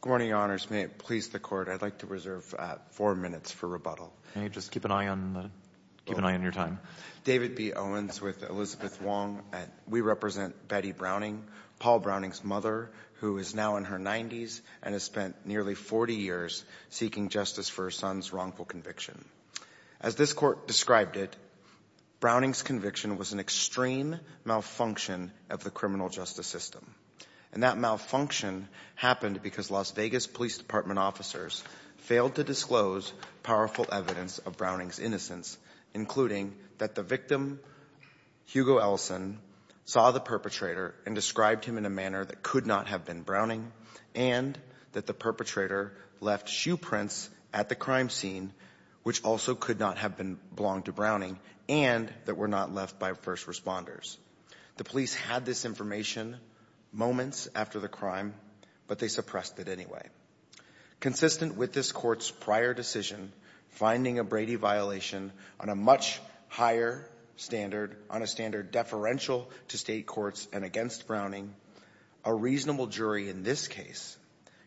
Good morning, Your Honors. May it please the Court, I'd like to reserve four minutes for rebuttal. Can you just keep an eye on your time? David B. Owens with Elizabeth Wong. We represent Betty Browning, Paul Browning's mother, who is now in her 90s and has spent nearly 40 years seeking justice for her son's wrongful conviction. As this Court described it, Browning's conviction was an extreme malfunction of the Las Vegas Police Department officers failed to disclose powerful evidence of Browning's innocence, including that the victim, Hugo Ellison, saw the perpetrator and described him in a manner that could not have been Browning, and that the perpetrator left shoe prints at the crime scene, which also could not have belonged to Browning, and that were not left by first responders. They suppressed it anyway. Consistent with this Court's prior decision, finding a Brady violation on a much higher standard, on a standard deferential to state courts and against Browning, a reasonable jury in this case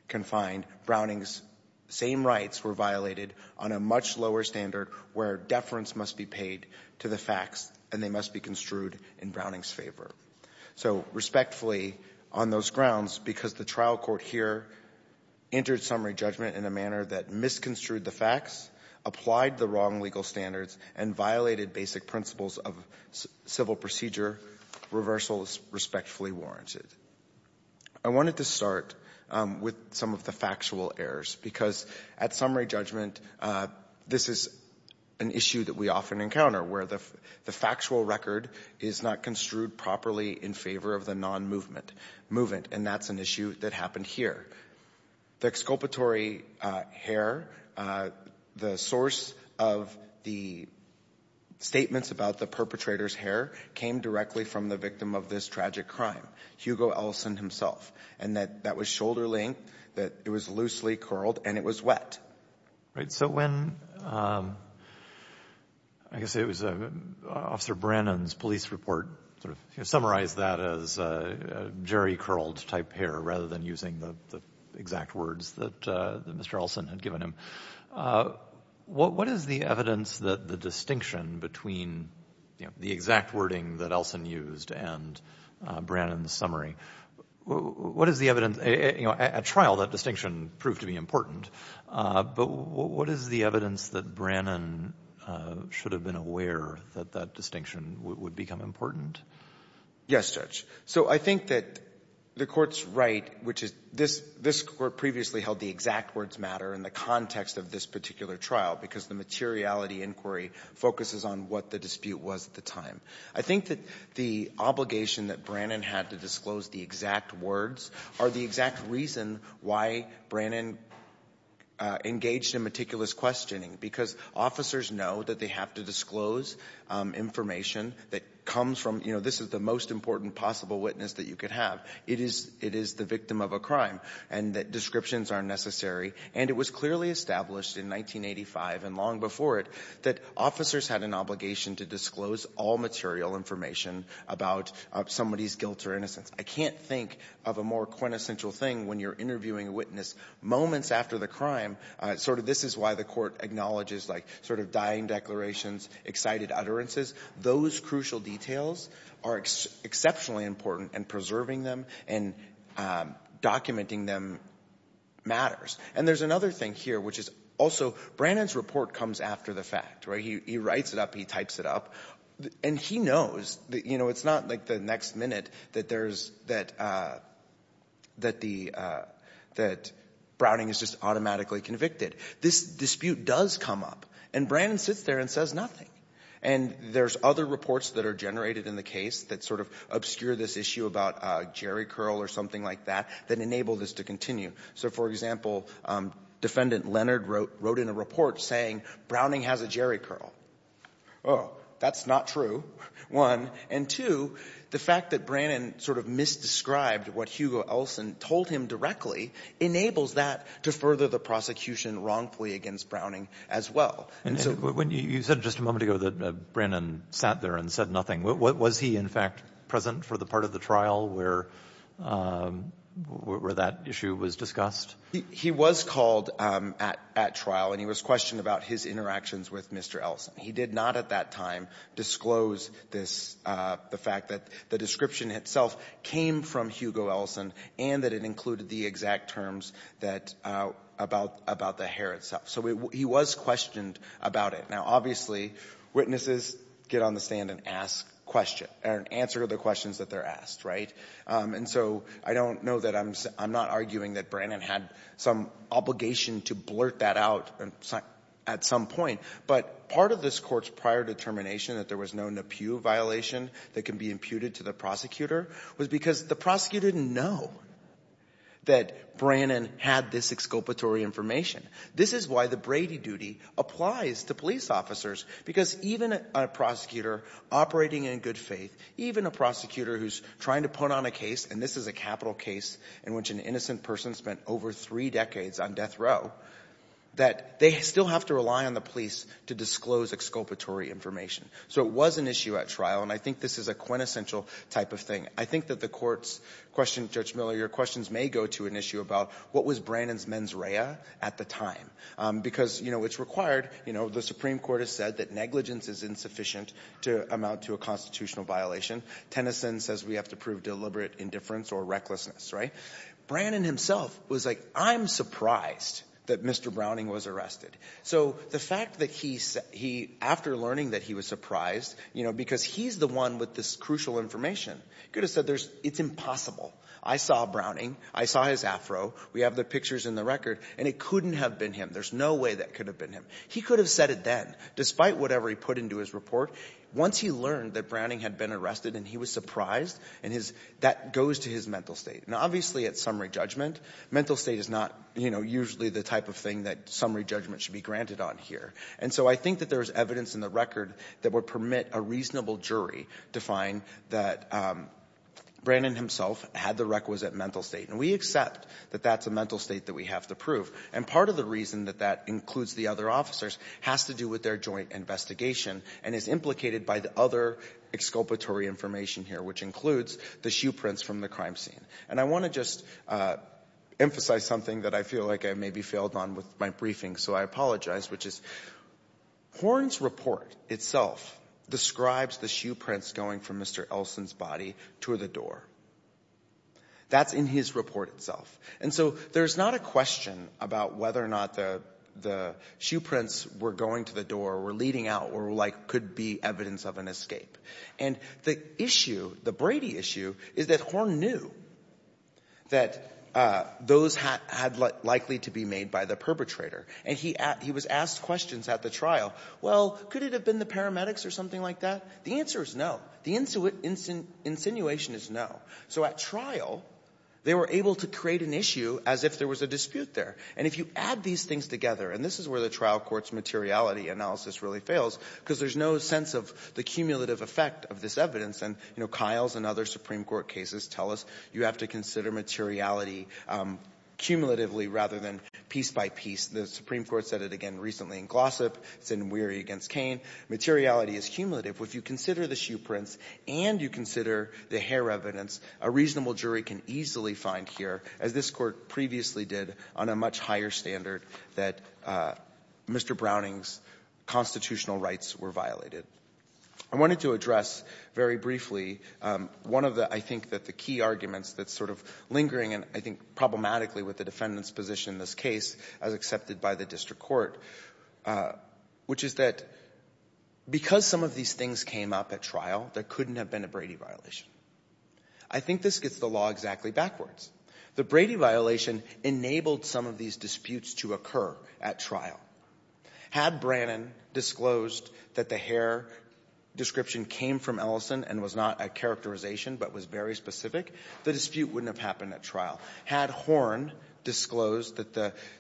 can find Browning's same rights were violated on a much lower standard where deference must be paid to the facts and they must be construed in Browning's favor. So respectfully, on those grounds, because the trial court here entered summary judgment in a manner that misconstrued the facts, applied the wrong legal standards, and violated basic principles of civil procedure, reversal is respectfully warranted. I wanted to start with some of the factual errors, because at summary judgment, this is an issue that we often encounter, where the factual record is not construed properly in favor of the non-movement, and that's an issue that happened here. The exculpatory hair, the source of the statements about the perpetrator's hair came directly from the victim of this tragic crime, Hugo Ellison himself, and that was shoulder length, that it was loosely curled, and it was wet. Right, so when, I guess it was Officer Brannon's police report sort of summarized that as jerry-curled type hair rather than using the exact words that Mr. Ellison had given him, what is the evidence that the distinction between the exact wording that Ellison used and Brannon's summary, what is the evidence, you know, at trial that distinction proved to be important? But what is the evidence that Brannon should have been aware that that distinction would become important? Yes, Judge. So I think that the Court's right, which is this Court previously held the exact words matter in the context of this particular trial, because the materiality inquiry focuses on what the dispute was at the time. I think that the obligation that Brannon had to disclose the exact words are the exact reason why Brannon engaged in meticulous questioning, because officers know that they have to disclose information that comes from, you know, this is the most important possible witness that you could have. It is the victim of a crime, and that descriptions are necessary. And it was clearly established in 1985 and long before it that officers had an obligation to disclose all material information about somebody's guilt or innocence. I can't think of a more quintessential thing when you're interviewing a witness moments after the crime, sort of this is why the Court acknowledges, like, sort of dying declarations, excited utterances. Those crucial details are exceptionally important, and preserving them and documenting them matters. And there's another thing here, which is also, Brannon's report comes after the fact, right? He writes it up, he types it up, and he knows, you know, it's not like the next minute that there's, that Browning is just automatically convicted. This dispute does come up, and Brannon sits there and says nothing. And there's other reports that are generated in the case that sort of obscure this issue about a jerry curl or something like that, that enable this to continue. So, for example, Defendant Leonard wrote in a saying, Browning has a jerry curl. Oh, that's not true, one. And two, the fact that Brannon sort of misdescribed what Hugo Elson told him directly enables that to further the prosecution wrongfully against Browning as well. And so when you said just a moment ago that Brannon sat there and said nothing, was he in fact present for the part of the trial where that issue was discussed? He was called at trial, and he was questioned about his interactions with Mr. Elson. He did not at that time disclose this, the fact that the description itself came from Hugo Elson and that it included the exact terms that, about the hair itself. So he was questioned about it. Now, obviously, witnesses get on the stand and ask questions, or answer the questions that they're asked, right? And so I don't know that I'm, I'm not arguing that Brannon had some obligation to blurt that out at some point, but part of this court's prior determination that there was no Napieu violation that can be imputed to the prosecutor was because the prosecutor didn't know that Brannon had this exculpatory information. This is why the Brady duty applies to police officers, because even a prosecutor operating in good faith, even a prosecutor who's trying to put on a case, and this is a capital case in which an innocent person spent over three decades on death row, that they still have to rely on the police to disclose exculpatory information. So it was an issue at trial, and I think this is a quintessential type of thing. I think that the court's question, Judge Miller, your questions may go to an issue about what was Brannon's mens rea at the time, because, you know, it's required, you know, the Supreme Court has said that negligence is insufficient to amount to a constitutional violation. Tennyson says we have to prove deliberate indifference or recklessness, right? Brannon himself was like, I'm surprised that Mr. Browning was arrested. So the fact that he, after learning that he was surprised, you know, because he's the one with this crucial information, could have said it's impossible. I saw Browning. I saw his afro. We have the pictures in the record, and it couldn't have been him. There's no way that could have been him. He could have said it then, despite whatever he put into his report. Once he learned that Browning had been arrested and he was surprised, and his — that goes to his mental state. Now, obviously, at summary judgment, mental state is not, you know, usually the type of thing that summary judgment should be granted on here. And so I think that there is evidence in the record that would permit a reasonable jury to find that Brannon himself had the requisite mental state, and we accept that that's a mental state that we have to prove. And part of the reason that that includes the other officers has to do with their joint investigation and is implicated by the other exculpatory information here, which includes the shoe prints from the crime scene. And I want to just emphasize something that I feel like I maybe failed on with my briefing, so I apologize, which is Horne's report itself describes the shoe prints going from Mr. Elson's body to the door. That's in his report itself. And so there's not a question about whether or not the shoe prints were going to the door or were leading out or, like, could be evidence of an escape. And the issue, the Brady issue, is that Horne knew that those had likely to be made by the perpetrator. And he was asked questions at the trial, well, could it have been the paramedics or something like that? The answer is no. The insinuation is no. So at trial, they were able to create an issue as if there was a dispute there. And if you add these things together, and this is where the trial court's materiality analysis really fails, because there's no sense of the cumulative effect of this evidence. And, you know, Kyle's and other Supreme Court cases tell us you have to consider materiality cumulatively rather than piece by piece. The Supreme Court said it again recently in Glossip. It's in Weary against Kane. Materiality is cumulative. If you consider the shoe prints and you consider the hair evidence, a reasonable jury can easily find here, as this Court previously did on a much higher standard, that Mr. Browning's constitutional rights were violated. I wanted to address very briefly one of the, I think, that the key arguments that's sort of lingering, and I think problematically with the defendant's position in this case, as accepted by the district court, which is that because some of these things came up at trial, there couldn't have been a Brady violation. I think this gets the law exactly backwards. The Brady violation enabled some of these disputes to occur at trial. Had Brannon disclosed that the hair description came from Ellison and was not a characterization but was very specific, the dispute wouldn't have happened at trial. Had Horn disclosed that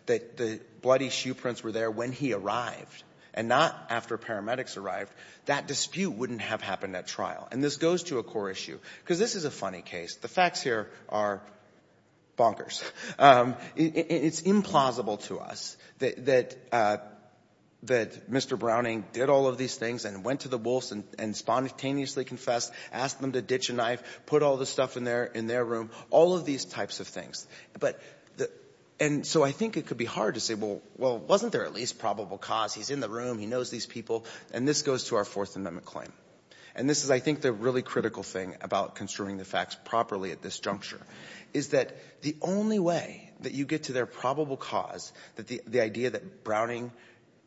the bloody shoe prints were there when he arrived and not after paramedics arrived, that dispute wouldn't have happened at trial. And this goes to a core issue, because this is a funny case. The facts here are bonkers. It's implausible to us that Mr. Browning did all of these things and went to the Wolfs and spontaneously confessed, asked them to ditch a knife, put all the stuff in their room, all of these types of things. And so I think it could be hard to say, well, wasn't there at least probable cause? He's in the room. He knows these people. And this goes to our Fourth Amendment claim. And this is, I think, the really critical thing about construing the facts properly at this juncture, is that the only way that you get to their probable cause, the idea that Browning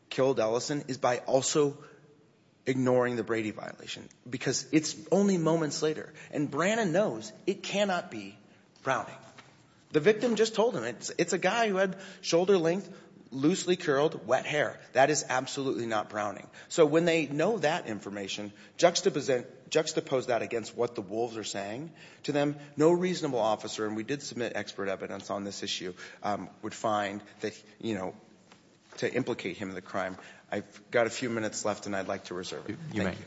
killed Ellison, is by also ignoring the Brady violation, because it's only moments later. And Brannon knows it cannot be Browning. The victim just told him. It's a guy who had shoulder length, loosely curled, wet hair. That is absolutely not Browning. So when they know that information, juxtapose that against what the Wolfs are saying. To them, no reasonable officer, and we did submit expert evidence on this issue, would find that, you know, to implicate him in the crime. I've got a few minutes left, and I'd like to reserve it. Thank you.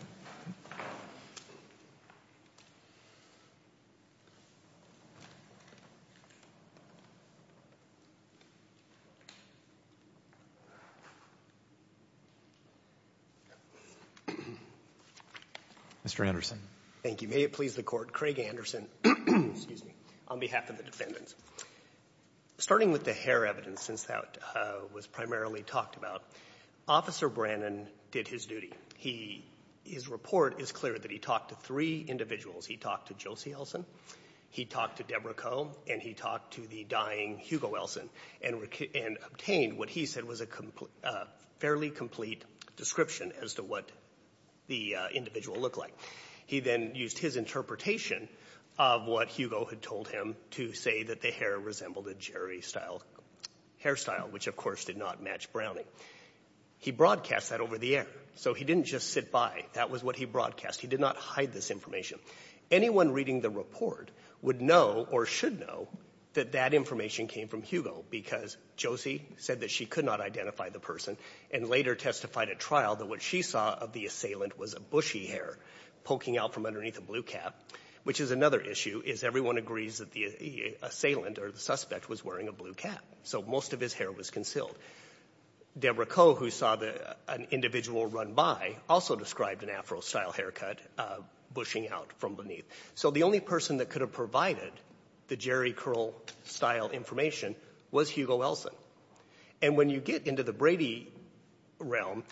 Mr. Anderson. Thank you. May it please the Court. Craig Anderson, on behalf of the defendants. Starting with the hair evidence, since that was primarily talked about, Officer Brannon did his duty. He his report is clear that he talked to three individuals. He talked to Josie Ellison, he talked to Debra Coe, and he talked to the dying Hugo Wilson, and obtained what he said was a fairly complete description as to what the individual looked like. He then used his interpretation of what Hugo had told him to say that the hair resembled a Jerry-style hairstyle, which of course did not match Browning. He broadcast that over the air. So he didn't just sit by. That was what he broadcast. He did not hide this information. Anyone reading the report would know, or should know, that that information came from Hugo, because Josie said that she could not identify the person, and later testified at trial that what she saw of the assailant was a bushy hair poking out from underneath a blue cap, which is another issue, is everyone agrees that the assailant or the suspect was wearing a blue cap. So most of his hair was concealed. Debra Coe, who saw an individual run by, also described an afro-style haircut, bushing out from beneath. So the only person that could have provided the Jerry Curl-style information was Hugo Wilson. And when you get into the Brady realm,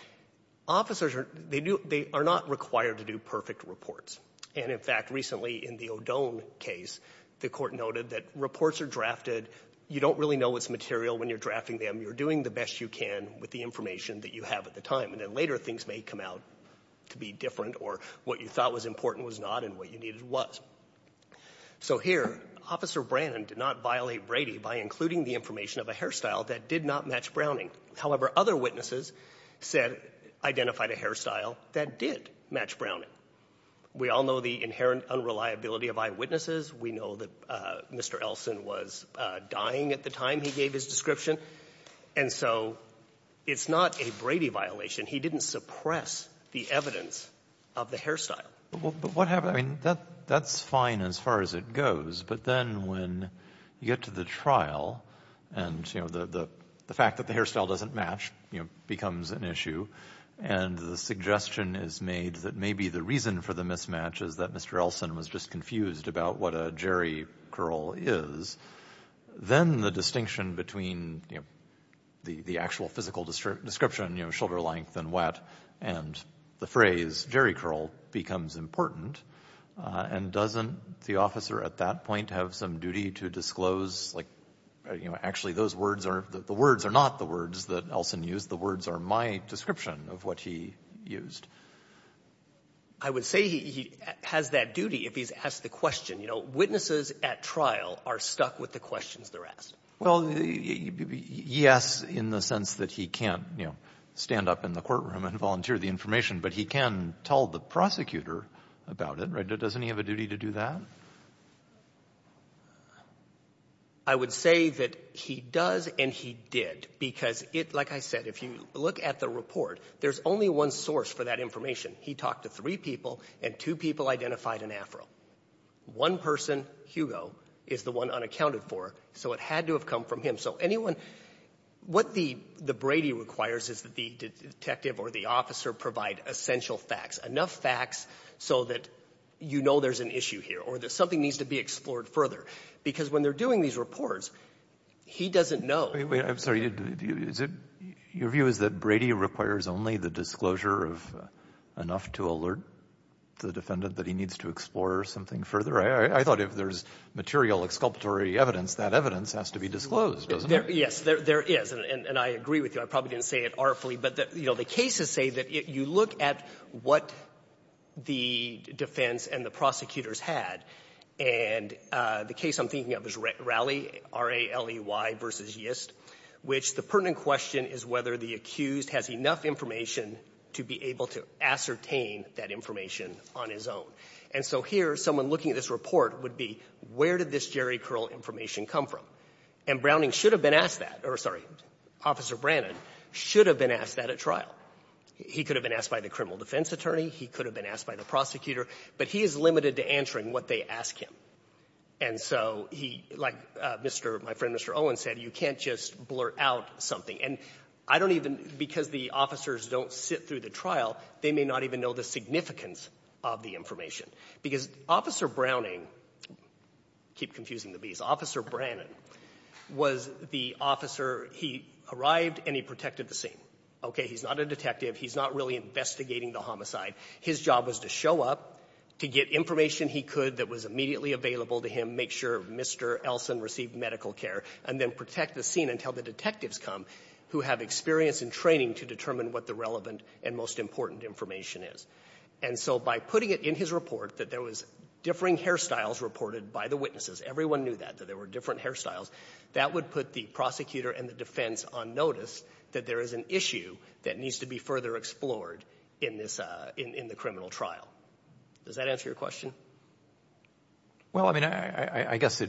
officers are not required to do perfect reports. And in fact, recently in the O'Done case, the court noted that reports are drafted. You don't really know what's material when you're drafting them. You're doing the best you can with the information that you have at the time, and then later things may come out to be different or what you thought was important was not and what you needed was. So here, Officer Brannon did not violate Brady by including the information of a hairstyle that did not match Browning. However, other witnesses said, identified a hairstyle that did match Browning. We all know the inherent unreliability of eyewitnesses. We know that Mr. Elson was dying at the time he gave his description. And so it's not a Brady violation. He didn't suppress the evidence of the hairstyle. But what happened? I mean, that's fine as far as it goes. But then when you get to the trial and, you know, the fact that the hairstyle doesn't match, you know, becomes an issue, and the suggestion is made that maybe the reason for the mismatch is that Mr. Elson was just confused about what a Jerry Curl is, then the distinction between, you know, the actual physical description, you know, shoulder length and what, and the phrase Jerry Curl becomes important. And doesn't the officer at that point have some duty to disclose, like, you know, actually those words are, the words are not the words that Elson used. The words are my description of what he used. I would say he has that duty if he's asked the question. You know, witnesses at trial are stuck with the questions they're asked. Well, yes, in the sense that he can't, you know, stand up in the courtroom and volunteer the information, but he can tell the prosecutor about it. Doesn't he have a duty to do that? I would say that he does and he did, because it, like I said, if you look at the report, there's only one source for that information. He talked to three people, and two people identified an afro. One person, Hugo, is the one unaccounted for, so it had to have come from him. So anyone, what the Brady requires is that the detective or the officer provide essential facts, enough facts so that you know there's an issue here or that something needs to be explored further, because when they're doing these reports, he doesn't know. Wait, wait. I'm sorry. Is it, your view is that Brady requires only the disclosure of enough to alert the defendant that he needs to explore something further? I thought if there's material exculpatory evidence, that evidence has to be disclosed, doesn't it? Yes, there is, and I agree with you. I probably didn't say it artfully, but, you know, the cases say that if you look at what the defense and the prosecutors had, and the case I'm thinking of is Raley, R-A-L-E-Y versus Yist, which the pertinent question is whether the accused has enough information to be able to ascertain that information on his own. And so here, someone looking at this report would be, where did this jerry curl information come from? And Browning should have been asked that, or, sorry, Officer Brannon should have been asked that at trial. He could have been asked by the criminal defense attorney. He could have been asked by the prosecutor. But he is limited to answering what they ask him. And so he, like Mr., my friend Mr. Owen said, you can't just blurt out something. And I don't even, because the officers don't sit through the trial, they may not even know the significance of the information. Because Officer Browning, keep confusing the Bs, Officer Brannon was the officer he arrived and he protected the scene. Okay? He's not a detective. He's not really investigating the homicide. His job was to show up, to get information he could that was immediately available to him, make sure Mr. Elson received medical care, and then protect the scene until the detectives come who have experience and training to determine what the relevant and most important information is. And so by putting it in his report that there was differing hairstyles reported by the witnesses, everyone knew that, that there were different hairstyles, that would put the prosecutor and the defense on notice that there is an issue that needs to be further explored in this, in the criminal trial. Does that answer your question? Well, I mean, I guess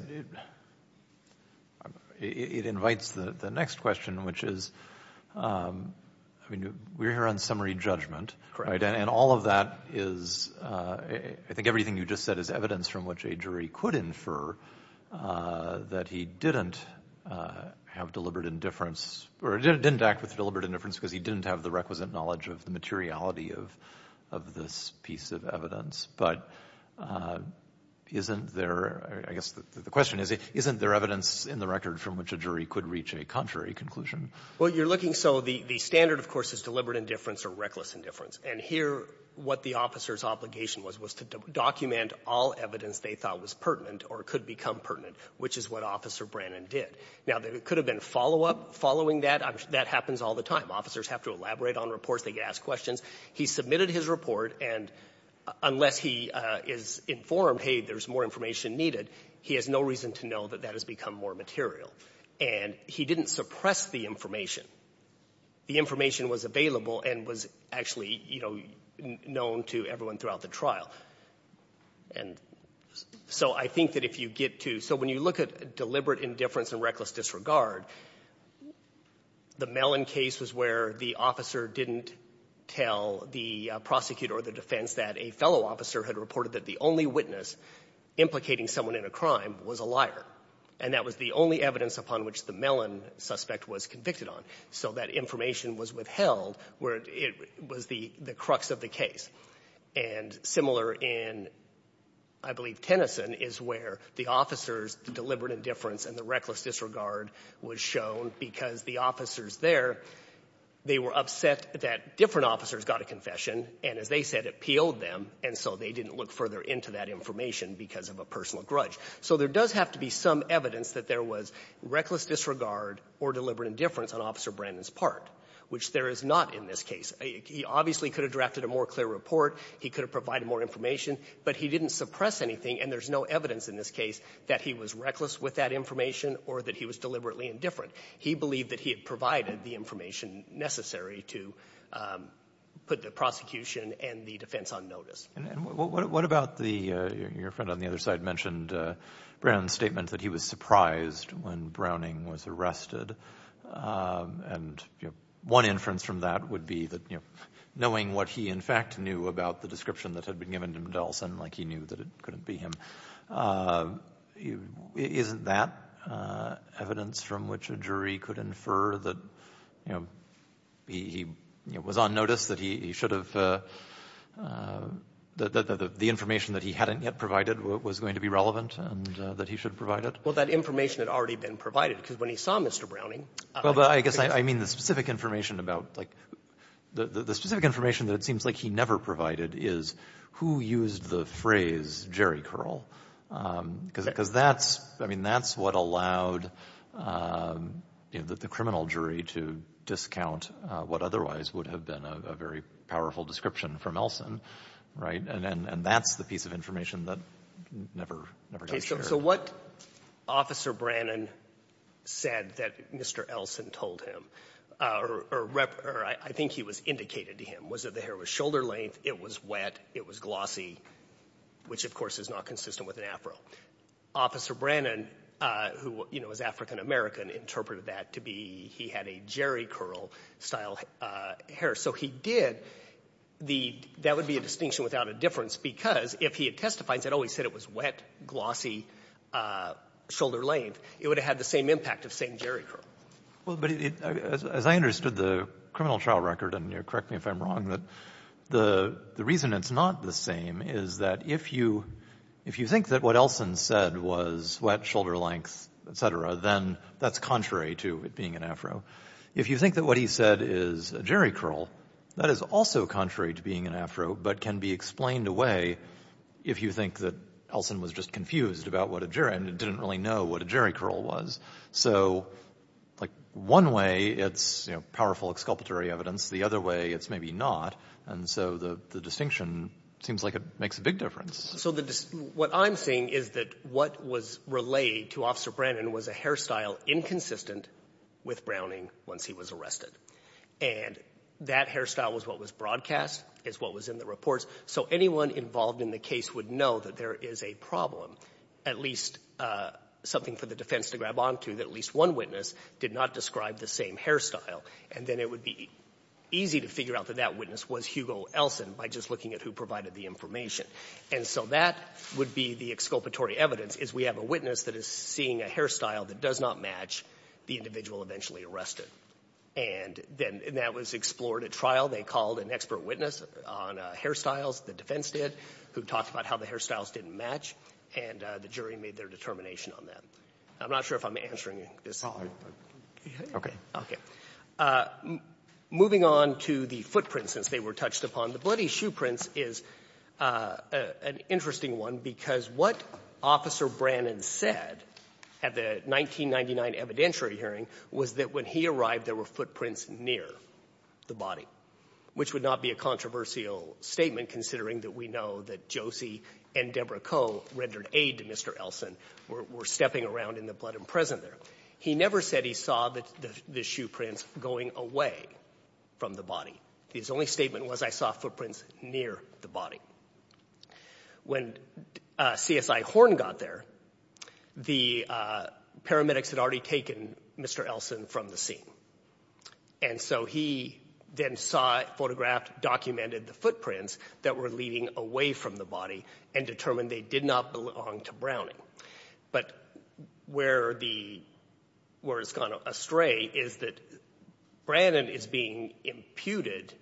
it invites the next question, which is, I mean, we're here on summary judgment, right? And all of that is, I think everything you just said is evidence from which a jury could infer that he didn't have deliberate indifference or didn't act with deliberate indifference because he didn't have the requisite knowledge of the materiality of this piece of evidence. But isn't there, I guess the question is, isn't there evidence in the record from which a jury could reach a contrary conclusion? Well, you're looking, so the standard, of course, is deliberate indifference or reckless indifference. And here, what the officer's obligation was, was to document all evidence they thought was pertinent or could become pertinent, which is what Officer Brannon did. Now, there could have been follow-up following that. That happens all the time. Officers have to elaborate on reports. They get asked questions. He submitted his report, and unless he is informed, hey, there's more information needed, he has no reason to know that that has become more material. And he didn't suppress the information. The information was available and was actually, you know, known to everyone throughout the trial. And so I think that if you get to, so when you look at deliberate indifference and reckless disregard, the Mellon case was where the officer didn't tell the prosecutor or the defense that a fellow officer had reported that the only witness implicating someone in a crime was a liar. And that was the only evidence upon which the Mellon suspect was convicted on. So that information was withheld where it was the crux of the case. And similar in, I believe, Tennyson is where the officer's deliberate indifference and the reckless disregard was shown because the officers there, they were upset that different officers got a confession. And as they said, it peeled them, and so they didn't look further into that information because of a personal grudge. So there does have to be some evidence that there was reckless disregard or deliberate indifference on Officer Brandon's part, which there is not in this case. He obviously could have drafted a more clear report. He could have provided more information. But he didn't suppress anything, and there's no evidence in this case that he was reckless with that information or that he was deliberately indifferent. He believed that he had provided the information necessary to put the prosecution and the defense on notice. And what about the, your friend on the other side mentioned Brown's statement that he was surprised when Browning was arrested. And one inference from that would be that knowing what he, in fact, knew about the description that had been given to Middleton, like he knew that it couldn't be him, isn't that evidence from which a jury could infer that, you know, he was on notice, that he should have, that the information that he hadn't yet provided was going to be relevant and that he should provide it? Well, that information had already been provided because when he saw Mr. Browning Well, but I guess I mean the specific information about, like, the specific information that it seems like he never provided is who used the phrase Jerry Curl? Because that's, I mean, that's what allowed, you know, the criminal jury to discount what otherwise would have been a very powerful description from Elson, right? And that's the piece of information that never, never got shared. So what Officer Brannon said that Mr. Elson told him, or I think he was indicated to him, was that the hair was shoulder-length, it was wet, it was glossy, which, of course, is not consistent with an afro. Officer Brannon, who, you know, is African-American, interpreted that to be he had a Jerry Curl-style hair. So he did the — that would be a distinction without a difference because if he had testified that, oh, he said it was wet, glossy, shoulder-length, it would have had the same impact of saying Jerry Curl. Well, but as I understood the criminal trial record, and you'll correct me if I'm wrong, that the reason it's not the same is that if you think that what Elson said was wet, shoulder-length, et cetera, then that's contrary to it being an afro. If you think that what he said is a Jerry Curl, that is also contrary to being an afro, but can be explained away if you think that Elson was just confused about what a Jerry — and didn't really know what a Jerry Curl was. So like one way, it's, you know, powerful exculpatory evidence. The other way, it's maybe not. And so the distinction seems like it makes a big difference. So the — what I'm saying is that what was relayed to Officer Brannan was a hairstyle inconsistent with Browning once he was arrested. And that hairstyle was what was broadcast, is what was in the reports. So anyone involved in the case would know that there is a problem, at least something for the defense to grab on to, that at least one witness did not describe the same hairstyle. And then it would be easy to figure out that that witness was Hugo Elson by just looking at who provided the information. And so that would be the exculpatory evidence, is we have a witness that is seeing a hairstyle that does not match the individual eventually arrested. And then — and that was explored at trial. They called an expert witness on hairstyles, the defense did, who talked about how the hairstyles didn't match, and the jury made their determination on that. I'm not sure if I'm answering this. Okay. Okay. Moving on to the footprints, since they were touched upon, the bloody shoe prints is an interesting one, because what Officer Brannon said at the 1999 evidentiary hearing was that when he arrived, there were footprints near the body, which would not be a controversial statement, considering that we know that Josie and Deborah Coe rendered aid to Mr. Elson, were stepping around in the blood and present there. He never said he saw the shoe prints going away from the body. His only statement was, I saw footprints near the body. When CSI Horn got there, the paramedics had already taken Mr. Elson from the scene. And so he then saw, photographed, documented the footprints that were leading away from the body and determined they did not belong to Browning. But where it's gone astray is that Brannon is being imputed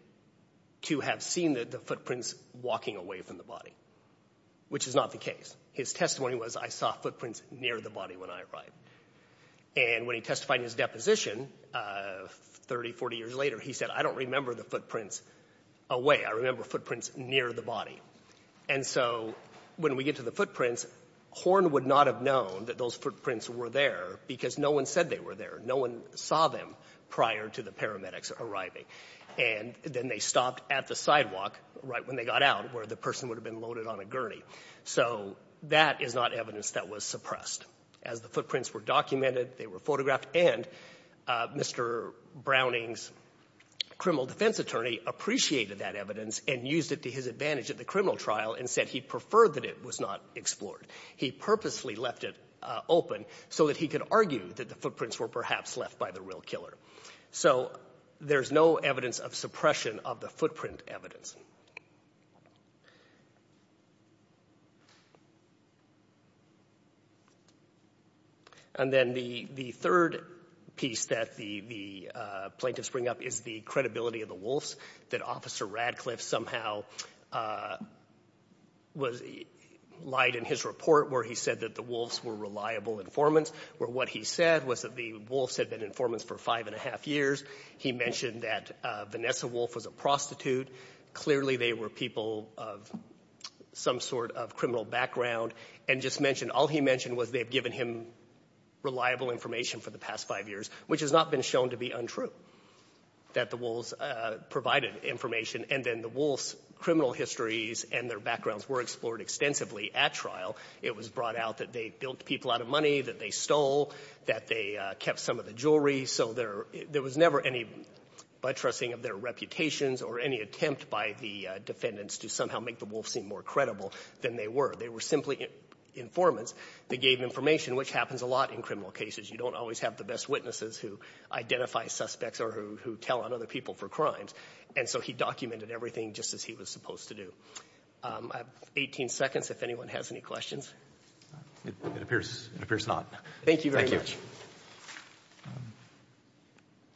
to have seen the footprints walking away from the body, which is not the case. His testimony was, I saw footprints near the body when I arrived. And when he testified in his deposition 30, 40 years later, he said, I don't remember the footprints away. I remember footprints near the body. And so when we get to the footprints, Horn would not have known that those footprints were there because no one said they were there. No one saw them prior to the paramedics arriving. And then they stopped at the sidewalk right when they got out, where the person would have been loaded on a gurney. So that is not evidence that was suppressed. As the footprints were documented, they were photographed, and Mr. Browning's criminal defense attorney appreciated that evidence and used it to his advantage at the criminal trial and said he preferred that it was not explored. He purposely left it open so that he could argue that the footprints were perhaps left by the real killer. So there's no evidence of suppression of the footprint evidence. And then the third piece that the plaintiffs bring up is the credibility of the Wolfs, that Officer Radcliffe somehow lied in his report where he said that the Wolfs were reliable informants, where what he said was that the Wolfs had been informants for five and a half years. He mentioned that Vanessa Wolf was a prostitute. Clearly, they were people of some sort of criminal background. And just mentioned, all he mentioned was they've given him reliable information for the past five years, which has not been shown to be untrue, that the Wolfs provided information. And then the Wolfs' criminal histories and their backgrounds were explored extensively at trial. It was brought out that they built people out of money, that they stole, that they kept some of the jewelry. So there was never any buttressing of their reputations or any attempt by the defendants to somehow make the Wolfs seem more credible than they were. They were simply informants. They gave information, which happens a lot in criminal cases. You don't always have the best witnesses who identify suspects or who tell on other people for crimes. And so he documented everything just as he was supposed to do. I have 18 seconds if anyone has any questions. It appears not. Thank you very much. Thank you.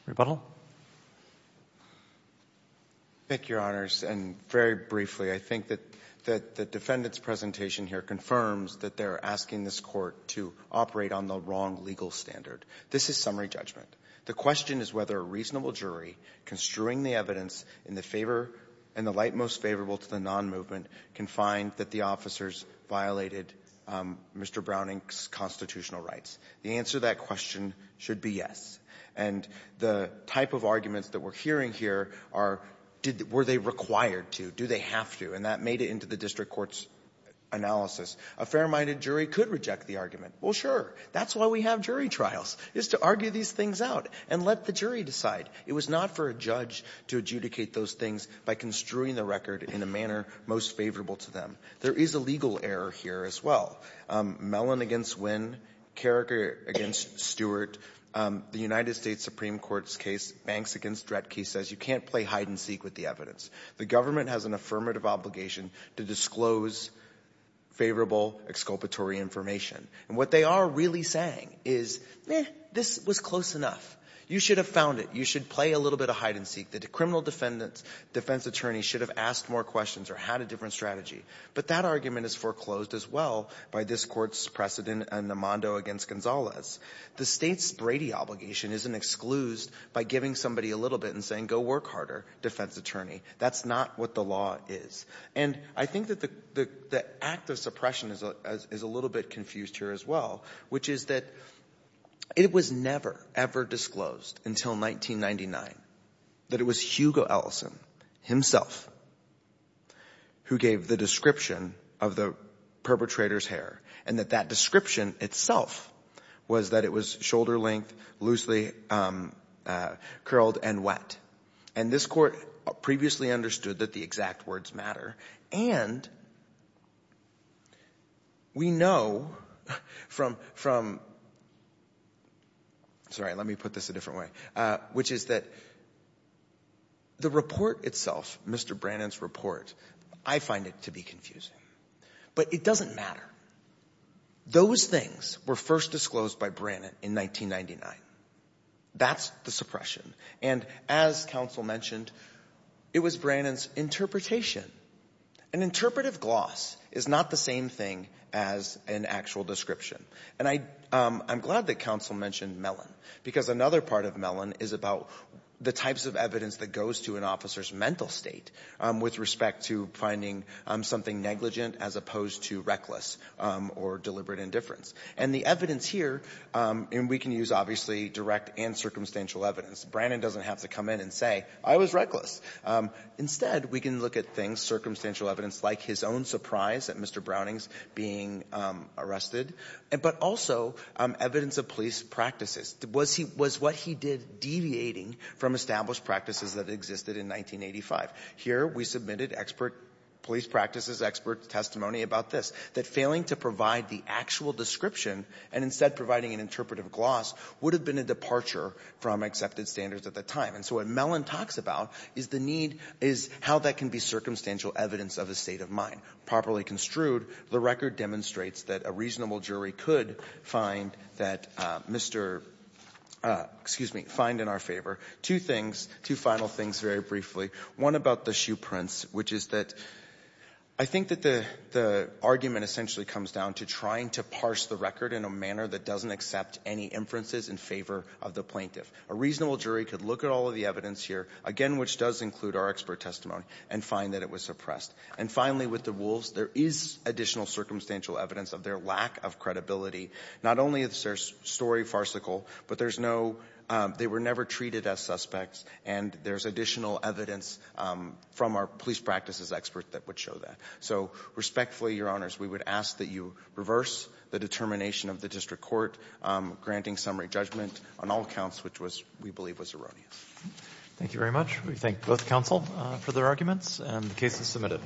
Rebuttal? I think, Your Honors, and very briefly, I think that the defendant's presentation here confirms that they're asking this Court to operate on the wrong legal standard. This is summary judgment. The question is whether a reasonable jury construing the evidence in the favor and the light most favorable to the nonmovement can find that the officers violated Mr. Browning's constitutional rights. The answer to that question should be yes. And the type of arguments that we're hearing here are, were they required to? Do they have to? And that made it into the district court's analysis. A fair-minded jury could reject the argument. Well, sure. That's why we have jury trials, is to argue these things out and let the jury decide. It was not for a judge to adjudicate those things by construing the record in a manner most favorable to them. There is a legal error here as well. Mellon against Winn, Carricker against Stewart, the United States Supreme Court's case, Banks against Dredke, says you can't play hide-and-seek with the evidence. The government has an affirmative obligation to disclose favorable exculpatory information. And what they are really saying is, meh, this was close enough. You should have found it. You should play a little bit of hide-and-seek. The criminal defense attorney should have asked more questions or had a different strategy. But that argument is foreclosed as well by this court's precedent in Amando against Gonzalez. The state's Brady obligation isn't exclused by giving somebody a little bit and saying, go work harder, defense attorney. That's not what the law is. And I think that the act of suppression is a little bit confused here as well, which is that it was never, ever disclosed until 1999 that it was Hugo Ellison himself who gave the description of the perpetrator's hair and that that description itself was that it was shoulder-length, loosely curled and wet. And this court previously understood that the exact words matter. And we know from, from, sorry, let me put this a different way, which is that the report itself, Mr. Brannan's report, I find it to be confusing, but it doesn't matter. Those things were first disclosed by Brannan in 1999. That's the suppression. And as counsel mentioned, it was Brannan's interpretation. An interpretive gloss is not the same thing as an actual description. And I, I'm glad that counsel mentioned Mellon because another part of Mellon is about the types of evidence that goes to an officer's mental state with respect to finding something negligent as opposed to reckless or deliberate indifference. And the evidence here, and we can use obviously direct and circumstantial evidence, Brannan doesn't have to come in and say, I was reckless. Instead, we can look at things, circumstantial evidence, like his own surprise at Mr. Browning's being arrested, but also evidence of police practices. Was he, was what he did deviating from established practices that existed in 1985? Here, we submitted expert police practices, expert testimony about this, that failing to provide the actual description and instead providing an interpretive gloss would have been a departure from accepted standards at the time. And so what Mellon talks about is the need, is how that can be circumstantial evidence of a state of mind. Properly construed, the record demonstrates that a reasonable jury could find that Mr. — excuse me, find in our favor. Two things, two final things very briefly. One about the shoe prints, which is that I think that the, the argument essentially comes down to trying to parse the record in a manner that doesn't accept any inferences in favor of the plaintiff. A reasonable jury could look at all of the evidence here, again, which does include our expert testimony, and find that it was suppressed. And finally, with the wolves, there is additional circumstantial evidence of their lack of credibility. Not only is their story farcical, but there's no — they were never treated as suspects, and there's additional evidence from our police practices experts that would show that. So respectfully, Your Honors, we would ask that you reverse the determination of the district court granting summary judgment on all accounts which was, we believe, was erroneous. Thank you very much. We thank both counsel for their arguments, and the case is submitted.